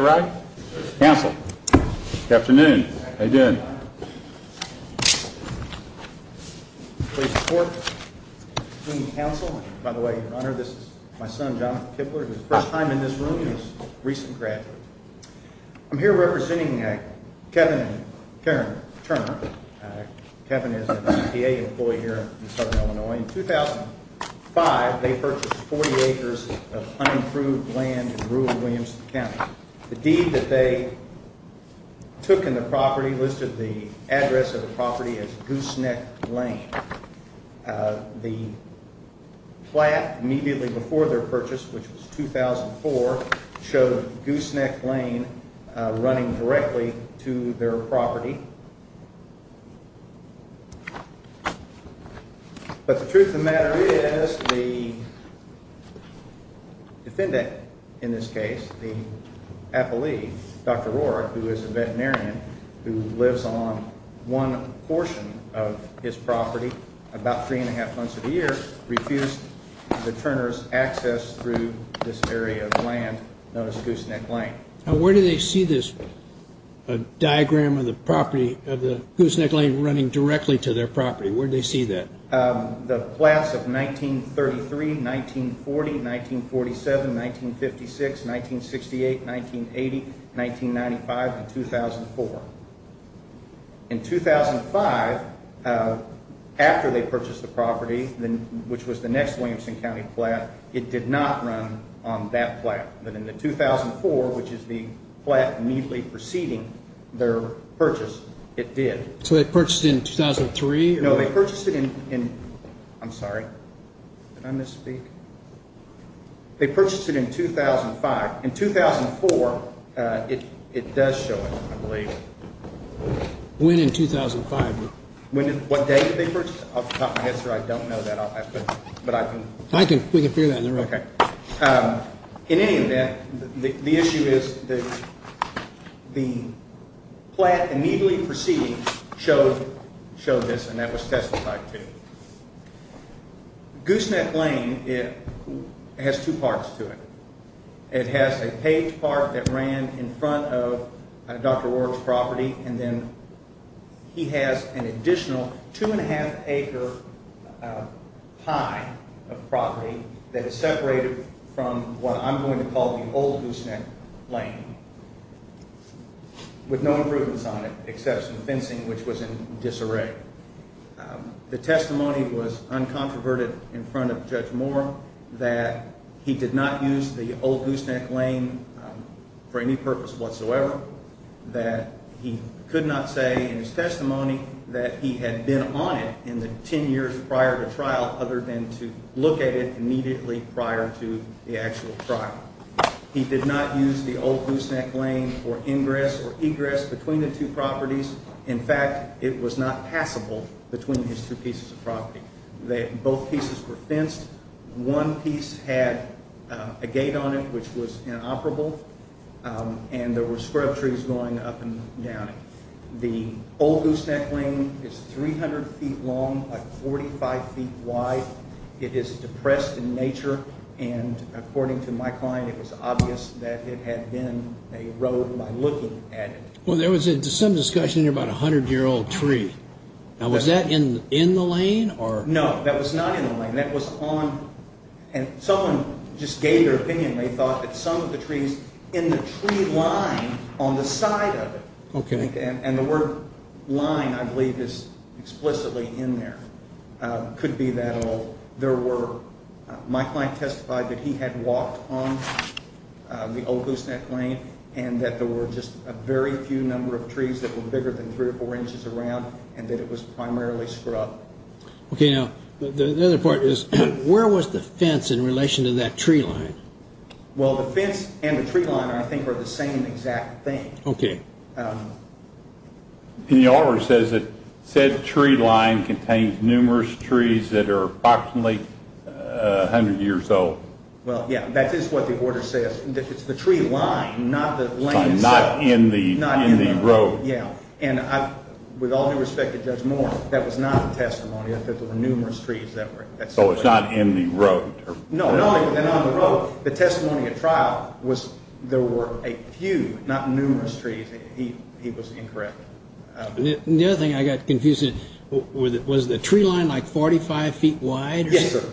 right? Council. Afternoon. How you doing? Please support the council. By the way, your honor, this is my son, Jonathan Kibler, who's first time in this room and his recent graduate. I'm here representing Kevin Turner. Kevin is a CPA employee here in southern Illinois. In 2005, they purchased 40 acres of unimproved land in rural Williamson County. The deed that they took in the property listed the address of the property as Gooseneck Lane. The plaque immediately before their purchase, which was 2004, showed Gooseneck Lane running directly to their property. But the truth of the matter is, the defendant in this case, the appellee, Dr. Rorick, who is a veterinarian who lives on one portion of his property about three and a half months of the year, refused the Turners access through this area of land known as Gooseneck Lane. Now, where do they see this diagram of the Gooseneck Lane running directly to their property? Where do they see that? The plaques of 1933, 1940, 1947, 1956, 1968, 1980, 1995, and 2004. In 2005, after they purchased the property, which was the next Williamson County plaque, it did not run on that plaque. But in the 2004, which is the plaque immediately preceding their purchase, it did. So they purchased in 2003? No, they purchased it in, I'm sorry, did I misspeak? They purchased it in 2005. In 2004, it does show it, I believe. When in 2005? When, what date did they purchase? I'll top my head, sir, I don't know that, but I can. I can, we can figure that out. In any event, the issue is that the plaque immediately preceding showed this, and that was testified to. Gooseneck Lane, it has two parts to it. It has a paved part that ran in front of Dr. Ward's property, and then he has an additional two-and-a-half-acre pie of property that is separated from what I'm going to call the old Gooseneck Lane, with no improvements on it except some fencing, which was in disarray. The testimony was uncontroverted in front of Judge Moore that he did not use the old Gooseneck Lane for any purpose whatsoever, that he could not say in his testimony that he had been on it in the ten years prior to trial other than to look at it immediately prior to the actual trial. He did not use the old Gooseneck Lane for ingress or egress between the two properties. In fact, it was not passable between his two pieces of property. Both pieces were fenced. One piece had a gate on it, which was inoperable, and there were scrub trees going up and down it. The old Gooseneck Lane is 300 feet long by 45 feet wide. It is depressed in nature, and according to my client, it was obvious that it had been a road by looking at it. Well, there was some discussion about a 100-year-old tree. Now, was that in the lane, or... No, that was not in the lane. That was on... Someone just gave their opinion. They thought that some of the trees in the tree line on the side of it, and the word line, I believe, is explicitly in there, could be that old. My client testified that he had walked on the old Gooseneck Lane, and that there were just a very few number of trees that were bigger than three or four inches around, and that it was primarily scrub. Okay, now, the other part is, where was the fence in relation to that tree line? Well, the fence and the tree line, I think, are the same exact thing. Okay. And the order says that said tree line contained numerous trees that are approximately 100 years old. Well, yeah, that is what the order says. It's the tree line, not the lane itself. Not in the road. Yeah, and with all due respect to Judge Moore, that was not the testimony, that there were numerous trees that were... So it's not in the road. No, not in the road. The testimony at trial was there were a few, not numerous, trees. He was incorrect. The other thing I got confused, was the tree line like 45 feet wide? Yes, sir.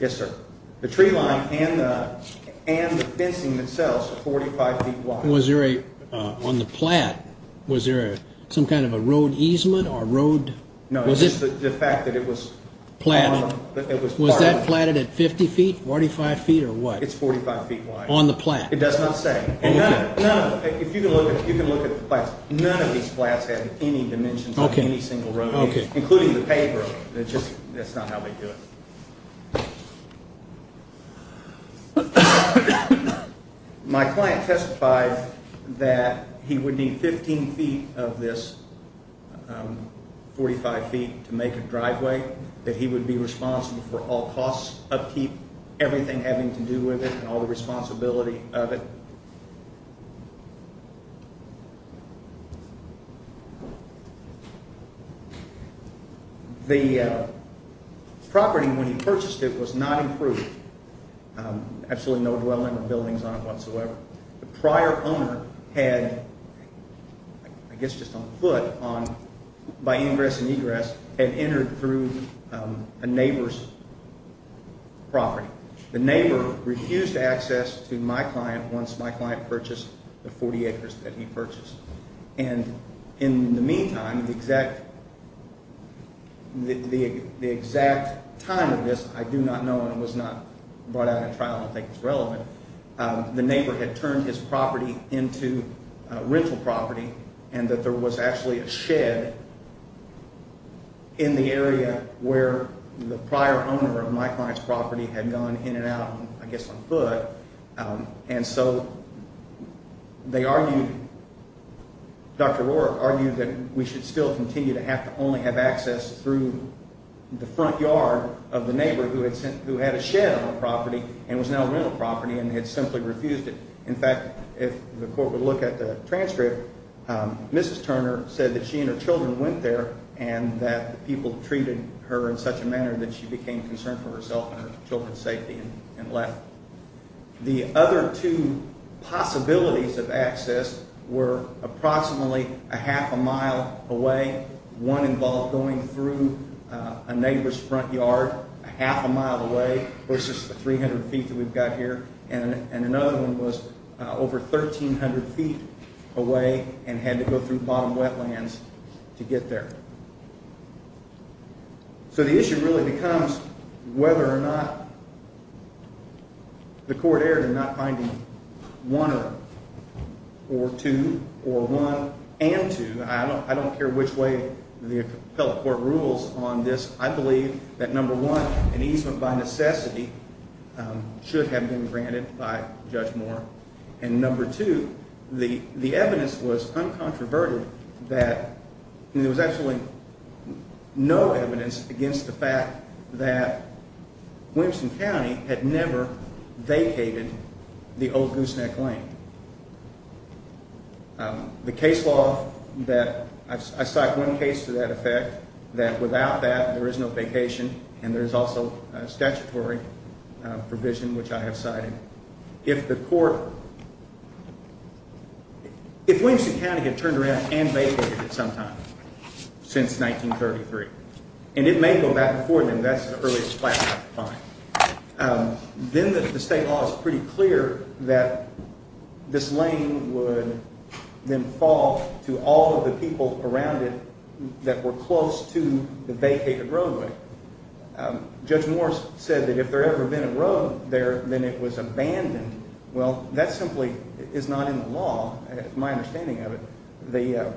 Yes, sir. The tree line and the fencing itself are 45 feet wide. Was there a, on the plat, was there some kind of a road easement or road... No, just the fact that it was... Platted. It was platted. Was that platted at 50 feet, 45 feet, or what? It's 45 feet wide. On the plat? It does not say. Okay. If you can look at the plats, none of these plats have any dimensions of any single road including the pavement. It's just, that's not how they do it. My client testified that he would need 15 feet of this, 45 feet, to make a driveway, that he would be responsible for all costs, upkeep, everything having to do with it, and all the responsibility of it. The property, when he purchased it, was not approved. Absolutely no dwelling or buildings on it whatsoever. The prior owner had, I guess just on foot, on, by ingress and egress, had entered through a neighbor's property. The neighbor refused access to my client once my client purchased the 40 acres that he purchased. And in the meantime, the exact time of this I do not know and was not brought out at trial and I don't think it's relevant. The neighbor had turned his property into a rental property and that there was actually a shed in the area where the prior owner of my client's property had gone in and out, I guess on foot. And so they argued, Dr. Roark argued that we should still continue to have to only have access through the front yard of the neighbor who had a shed on the property and was now a rental property and had simply refused it. In fact, if the court would look at the transcript, Mrs. Turner said that she and her children went there and that the people treated her in such a manner that she became concerned for herself and her children's safety and left. The other two possibilities of access were approximately a half a mile away. One involved going through a neighbor's front yard a half a mile away versus the 300 feet that we've got here. And another one was over 1,300 feet away and had to go through bottom wetlands to get there. So the issue really becomes whether or not the court erred in not finding one or two or one and two. I don't care which way the appellate court rules on this. I believe that number one, an easement by necessity should have been granted by Judge Moore. And number two, the evidence was uncontroverted that there was absolutely no evidence against the fact that Williamson County had never vacated the old Gooseneck Lane. The case law that I cite one case to that effect that without that there is no vacation and there is also a statutory provision which I have cited. If the court, if Williamson County had turned around and vacated it sometime since 1933 and it may go back and forth and that's the earliest platform to find, then the state law is pretty clear that this lane would then fall to all of the people around it that were close to the vacated roadway. Judge Moore said that if there ever been a road there, then it was abandoned. Well, that simply is not in the law, my understanding of it. The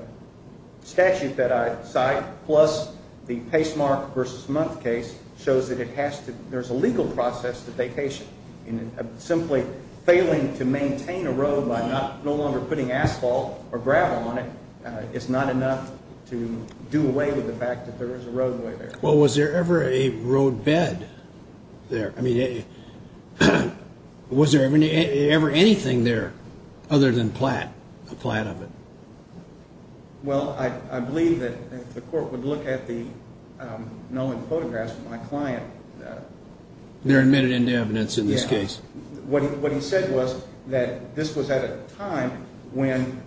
statute that I cite plus the pacemark versus month case shows that it has to, there's a legal process to vacation. Simply failing to maintain a road by no longer putting asphalt or gravel on it is not enough to do away with the fact that there is a roadway there. Well, was there ever a roadbed there? I mean, was there ever anything there other than a plat of it? Well, I believe that if the court would look at the Nolan photographs of my client... They're admitted into evidence in this case. What he said was that this was at a time when,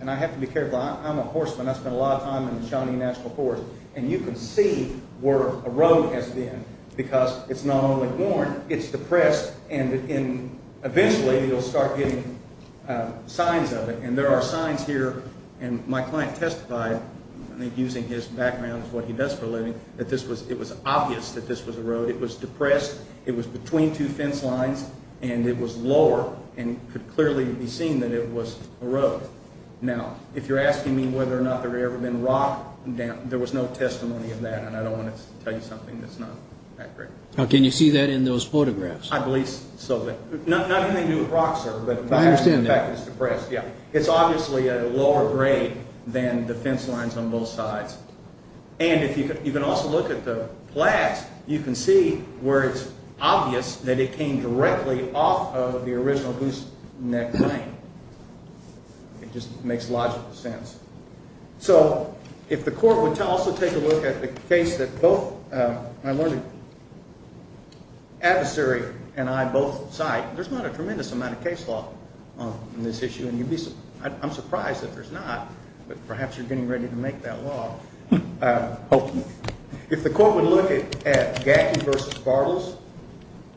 and I have to be careful, I'm a horseman, I spend a lot of time in the Shawnee National Forest and you can see where a road has been because it's not only worn, it's depressed and eventually you'll start getting signs of it. And there are signs here, and my client testified, I think using his background of what he does for a living, that it was obvious that this was a road. It was depressed, it was between two fence lines, and it was lower and could clearly be seen that it was a road. Now, if you're asking me whether or not there ever been rock, there was no testimony of that, and I don't want to tell you something that's not accurate. Now, can you see that in those photographs? I believe so. Not anything to do with rock, sir. I understand that. It's depressed, yeah. It's obviously at a lower grade than the fence lines on both sides. And you can also look at the plaques. You can see where it's obvious that it came directly off of the original Goose Neck Lane. It just makes logical sense. So, if the court would also take a look at the case that both, my learned adversary and I both cite, there's not a tremendous amount of case law on this issue, and I'm surprised that there's not, but perhaps you're getting ready to make that law. Hopefully. If the court would look at Gaffney v. Bartles,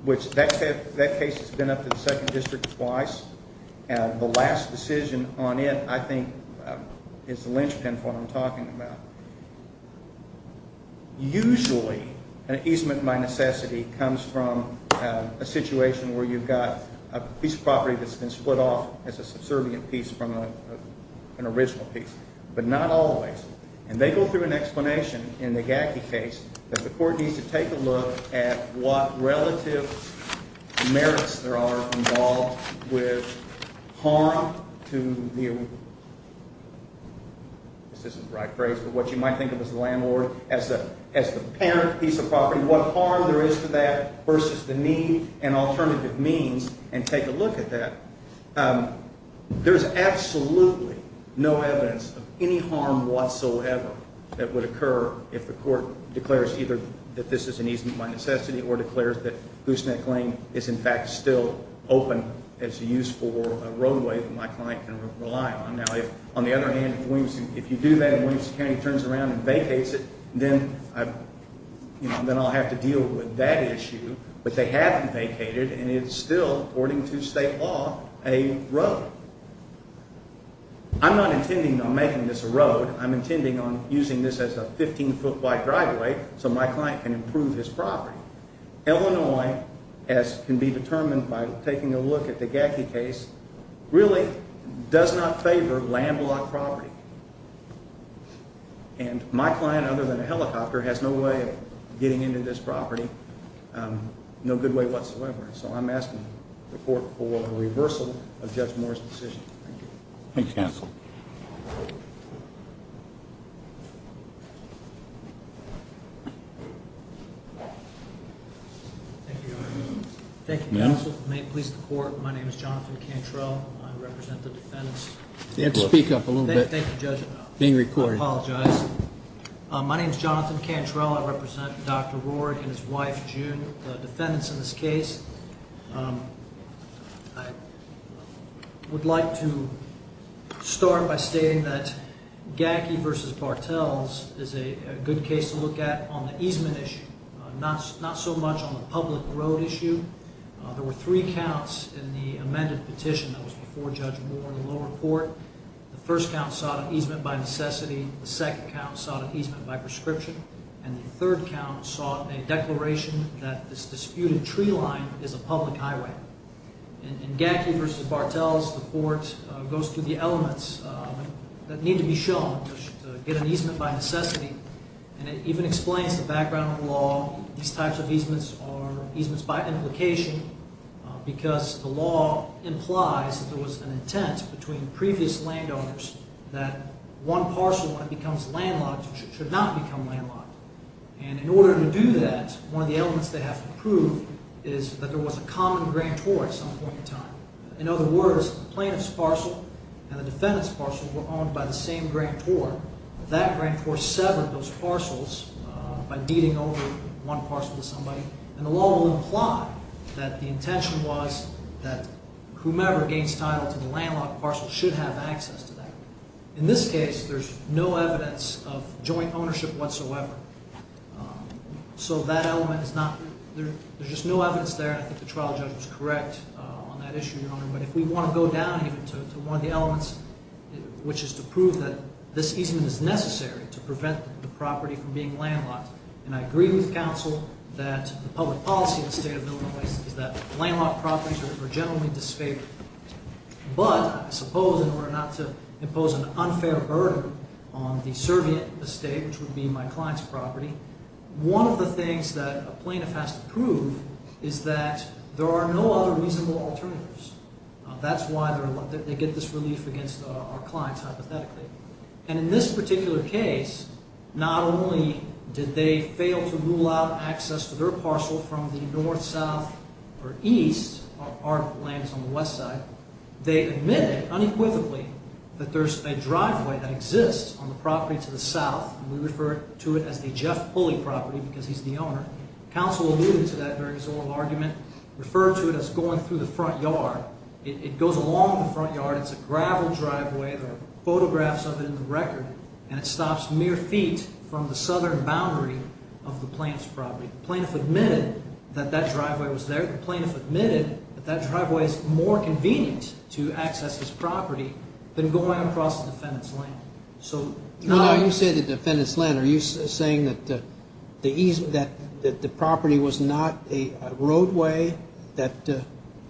which that case has been up to the 2nd District twice, and the last decision on it, I think, is the linchpin for what I'm talking about. Usually, an easement by necessity comes from a situation where you've got a piece of property that's been split off as a subservient piece from an original piece. But not always. And they go through an explanation in the Gaffney case that the court needs to take a look at what relative merits there are involved with harm to the... I guess this is the right phrase, but what you might think of as the landlord, as the parent piece of property, what harm there is to that versus the need and alternative means, and take a look at that. There's absolutely no evidence of any harm whatsoever that would occur if the court declares either that this is an easement by necessity or declares that Gooseneck Lane is in fact still open as a use for a roadway that my client can rely on. Now, on the other hand, if you do that and Williamson County turns around and vacates it, then I'll have to deal with that issue. But they haven't vacated, and it's still, according to state law, a road. I'm not intending on making this a road. I'm intending on using this as a 15-foot wide driveway so my client can improve his property. Illinois, as can be determined by taking a look at the Gacky case, really does not favor landlocked property. And my client, other than a helicopter, has no way of getting into this property, no good way whatsoever. So I'm asking the court for a reversal of Judge Moore's decision. Thank you. Thanks, counsel. Thank you, Your Honor. Thank you, counsel. May it please the court, my name is Jonathan Cantrell. I represent the defendants. You have to speak up a little bit. Thank you, Judge. Being recorded. I apologize. My name is Jonathan Cantrell. I represent Dr. Ward and his wife, June, the defendants in this case. I would like to start by stating that Gacky v. Bartels is a good case to look at on the easement issue, not so much on the public road issue. There were three counts in the amended petition that was before Judge Moore in the lower court. The first count sought an easement by necessity. The second count sought an easement by prescription. And the third count sought a declaration that this disputed tree line is a public highway. In Gacky v. Bartels, the court goes through the elements that need to be shown to get an easement by necessity. And it even explains the background of the law. These types of easements are easements by implication because the law implies that there was an intent between previous landowners that one parcel, when it becomes landlocked, should not become landlocked. And in order to do that, one of the elements they have to prove is that there was a common grand tour at some point in time. In other words, the plaintiff's parcel and the defendant's parcel were owned by the same grand tour. That grand tour severed those parcels by beating over one parcel to somebody. And the law will imply that the intention was that whomever gains title to the landlocked parcel should have access to that. In this case, there's no evidence of joint ownership whatsoever. So that element is not... There's just no evidence there, and I think the trial judge was correct on that issue, Your Honor. But if we want to go down even to one of the elements, which is to prove that this easement is necessary to prevent the property from being landlocked, and I agree with counsel that the public policy in the state of Illinois is that landlocked properties are generally disfavored. But I suppose in order not to impose an unfair burden on the servient estate, which would be my client's property, one of the things that a plaintiff has to prove is that there are no other reasonable alternatives. That's why they get this relief against our clients, hypothetically. And in this particular case, not only did they fail to rule out access to their parcel from the north, south, or east, our land is on the west side, they admitted unequivocally that there's a driveway that exists on the property to the south, and we refer to it as the Jeff Pulley property because he's the owner. Counsel alluded to that very sort of argument, referred to it as going through the front yard. It goes along the front yard. It's a gravel driveway. There are photographs of it in the record, and it stops mere feet from the southern boundary of the plaintiff's property. The plaintiff admitted that that driveway was there. The plaintiff admitted that that driveway is more convenient to access this property than going across the defendant's land. When you say the defendant's land, are you saying that the property was not a roadway?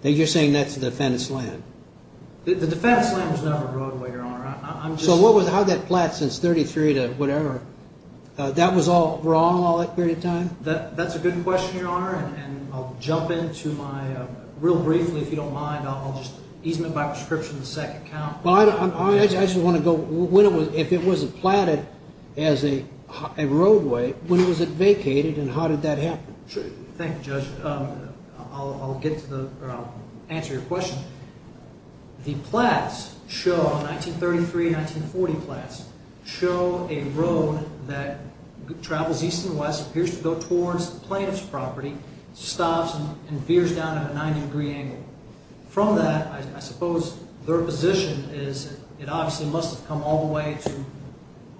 You're saying that's the defendant's land. The defendant's land was never a roadway, Your Honor. So how'd that plat since 33 to whatever? That was all wrong all that period of time? That's a good question, Your Honor, and I'll jump into my, real briefly if you don't mind, I'll just easement by prescription the second count. I just want to go, if it wasn't platted as a roadway, when was it vacated, and how did that happen? Thank you, Judge. I'll answer your question. The plats show, 1933-1940 plats, show a road that travels east and west, appears to go towards the plaintiff's property, stops and veers down at a 90-degree angle. From that, I suppose their position is that it obviously must have come all the way to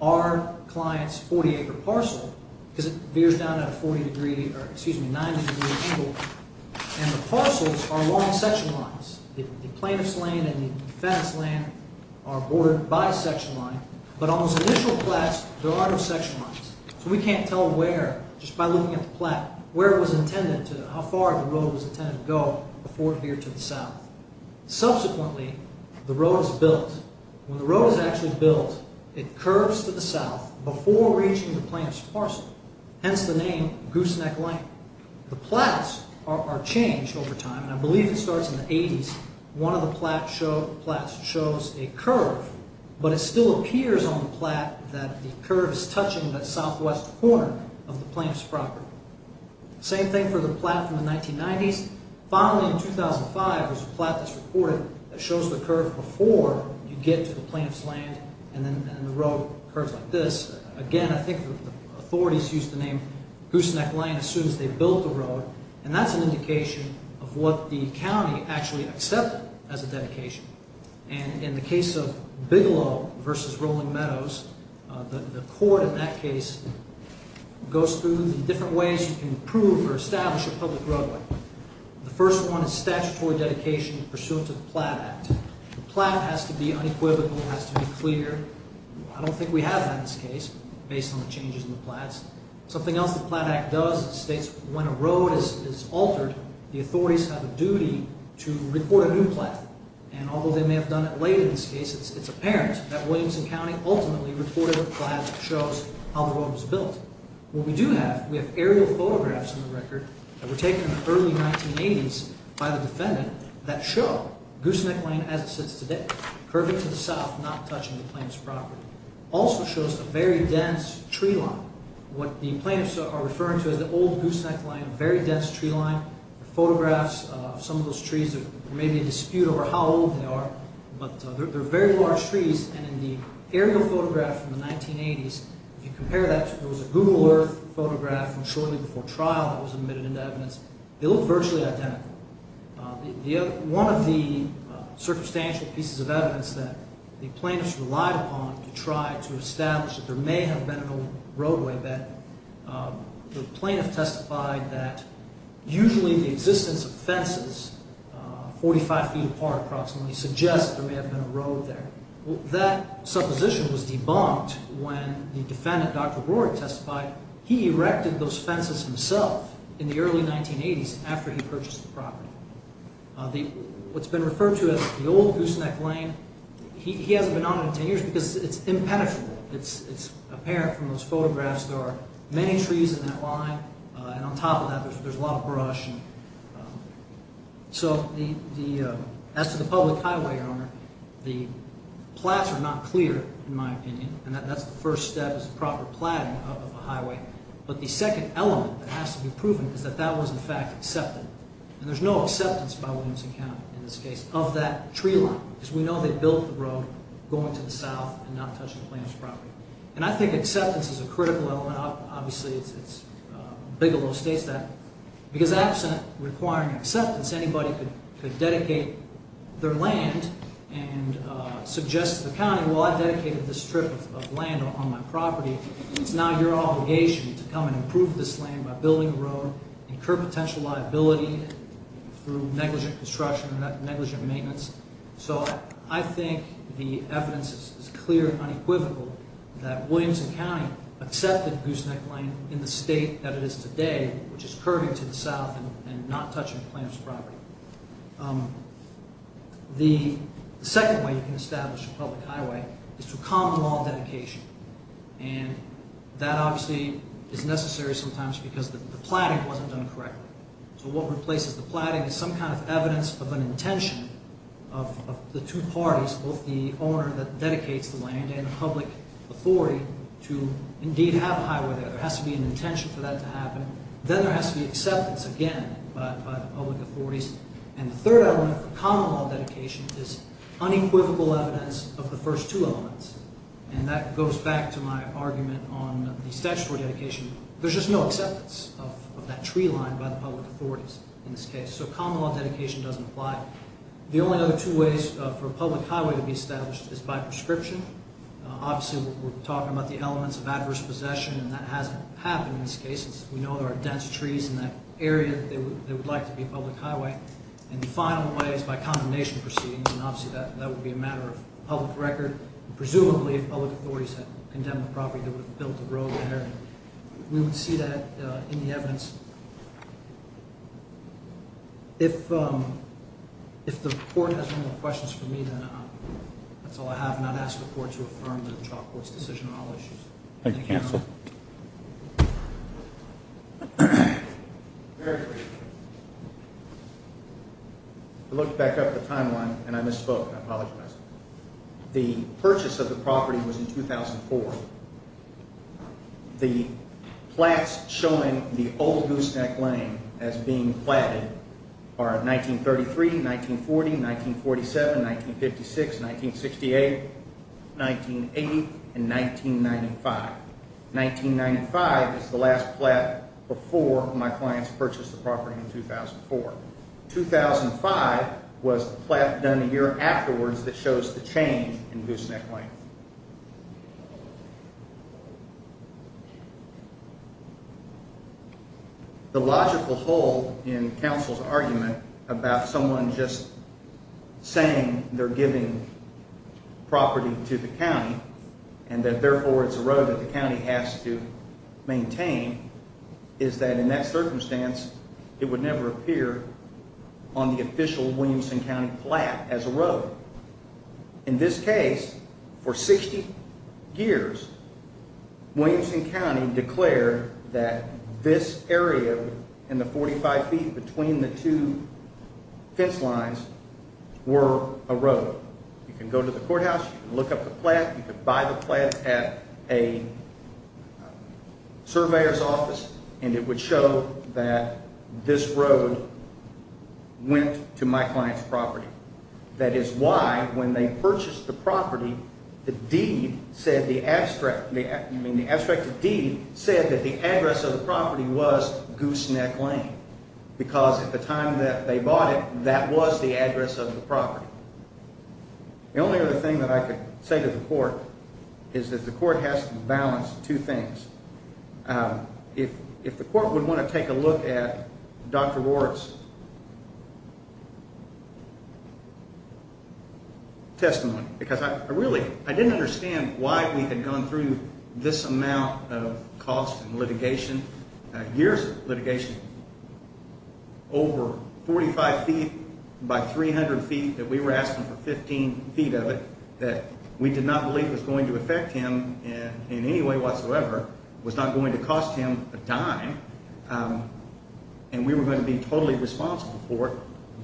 our client's 40-acre parcel, because it veers down at a 90-degree angle, and the parcels are long section lines. The plaintiff's land and the defendant's land are bordered by a section line, but on those initial plats, there are no section lines. So we can't tell where, just by looking at the plat, where it was intended to, how far the road was intended to go before it veered to the south. Subsequently, the road is built. When the road is actually built, it curves to the south before reaching the plaintiff's parcel, hence the name, Gooseneck Lane. The plats are changed over time, and I believe it starts in the 80s. One of the plats shows a curve, but it still appears on the plat that the curve is touching that southwest corner of the plaintiff's property. Same thing for the plat from the 1990s. Finally, in 2005, there's a plat that's recorded that shows the curve before you get to the plaintiff's land, and then the road curves like this. Again, I think the authorities used the name Gooseneck Lane as soon as they built the road, and that's an indication of what the county actually accepted as a dedication. And in the case of Bigelow v. Rolling Meadows, the court in that case goes through the different ways you can approve or establish a public roadway. The first one is statutory dedication pursuant to the Plat Act. The plat has to be unequivocal, it has to be clear. I don't think we have that in this case based on the changes in the plats. Something else the Plat Act does is states when a road is altered, the authorities have a duty to report a new plat. And although they may have done it late in this case, it's apparent that Williamson County ultimately reported a plat that shows how the road was built. What we do have, we have aerial photographs on the record that were taken in the early 1980s by the defendant that show Gooseneck Lane as it sits today, curving to the south, not touching the plaintiff's property. It also shows a very dense tree line. What the plaintiffs are referring to is the old Gooseneck Lane, a very dense tree line. The photographs of some of those trees, there may be a dispute over how old they are, but they're very large trees, and in the aerial photograph from the 1980s, if you compare that to the Google Earth photograph from shortly before trial that was admitted into evidence, they look virtually identical. One of the circumstantial pieces of evidence that the plaintiffs relied upon to try to establish that there may have been an old roadway, that the plaintiff testified that usually the existence of fences 45 feet apart approximately suggests there may have been a road there. That supposition was debunked when the defendant, Dr. Brewer, testified he erected those fences himself in the early 1980s after he purchased the property. What's been referred to as the old Gooseneck Lane, he hasn't been on it in 10 years because it's impenetrable. It's apparent from those photographs there are many trees in that line, and on top of that there's a lot of brush. So as to the public highway, Your Honor, the plats are not clear in my opinion, and that's the first step is a proper plat of a highway. But the second element that has to be proven is that that was in fact accepted. And there's no acceptance by Williamson County in this case of that tree line, because we know they built the road going to the south and not touching the plaintiff's property. And I think acceptance is a critical element. Obviously Bigelow states that. Because absent requiring acceptance, anybody could dedicate their land and suggest to the county, well, I've dedicated this strip of land on my property. It's now your obligation to come and improve this land by building a road, incur potential liability through negligent construction and negligent maintenance. So I think the evidence is clear and unequivocal that Williamson County accepted Gooseneck Lane in the state that it is today, which is curving to the south and not touching the plaintiff's property. The second way you can establish a public highway is through common law dedication. And that obviously is necessary sometimes because the platting wasn't done correctly. So what replaces the platting is some kind of evidence of an intention of the two parties, both the owner that dedicates the land and the public authority to indeed have a highway there. There has to be an intention for that to happen. Then there has to be acceptance again by the public authorities. And the third element for common law dedication is unequivocal evidence of the first two elements. And that goes back to my argument on the statutory dedication. There's just no acceptance of that tree line by the public authorities in this case. So common law dedication doesn't apply. The only other two ways for a public highway to be established is by prescription. Obviously we're talking about the elements of adverse possession, and that hasn't happened in this case. We know there are dense trees in that area that they would like to be a public highway. And the final way is by condemnation proceedings. And obviously that would be a matter of public record. Presumably if public authorities had condemned the property, they would have built a road there. We would see that in the evidence. If the court has no more questions for me, then that's all I have. And I'd ask the court to affirm the trial court's decision on all issues. Thank you, counsel. I looked back up the timeline, and I misspoke. I apologize. The purchase of the property was in 2004. The plaques showing the old Gooseneck Lane as being platted are 1933, 1940, 1947, 1956, 1968, 1980, and 1995. 1995 is the last plaque before my clients purchased the property in 2004. 2005 was the plaque done a year afterwards that shows the change in Gooseneck Lane. Thank you. The logical hole in counsel's argument about someone just saying they're giving property to the county and that therefore it's a road that the county has to maintain is that in that circumstance, it would never appear on the official Williamson County plaque as a road. In this case, for 60 years, Williamson County declared that this area in the 45 feet between the two fence lines were a road. You can go to the courthouse, you can look up the plaque, you could buy the plaque at a surveyor's office, and it would show that this road went to my client's property. That is why when they purchased the property, the deed said that the address of the property was Gooseneck Lane because at the time that they bought it, that was the address of the property. The only other thing that I could say to the court is that the court has to balance two things. If the court would want to take a look at Dr. Roark's testimony, because I really didn't understand why we had gone through this amount of cost and litigation, years of litigation, over 45 feet by 300 feet that we were asking for 15 feet of it that we did not believe was going to affect him in any way whatsoever, was not going to cost him a dime, and we were going to be totally responsible for it,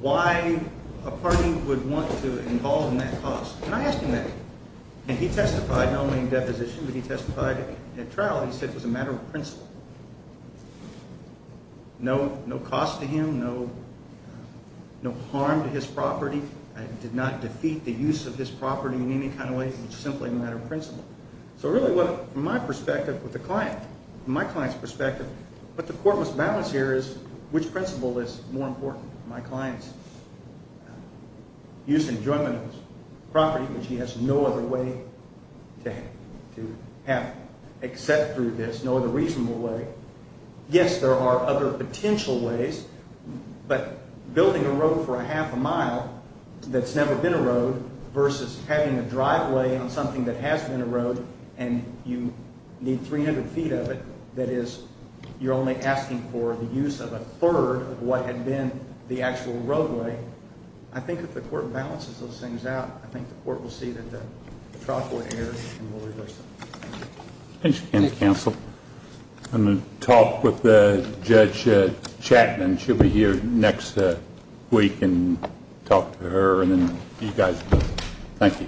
why a party would want to involve in that cost? Can I ask him that? And he testified, not only in deposition, but he testified at trial. He said it was a matter of principle. No cost to him, no harm to his property. It did not defeat the use of his property in any kind of way. It was simply a matter of principle. So really, from my client's perspective, what the court must balance here is which principle is more important? My client's use and enjoyment of his property, which he has no other way to have except through this, no other reasonable way. Yes, there are other potential ways, but building a road for a half a mile that's never been a road versus having a driveway on something that has been a road and you need 300 feet of it, that is you're only asking for the use of a third of what had been the actual roadway. I think if the court balances those things out, I think the court will see that the trial court errs and will reverse it. Thank you. Any counsel? I'm going to talk with Judge Chapman. She'll be here next week and talk to her and then you guys. Thank you.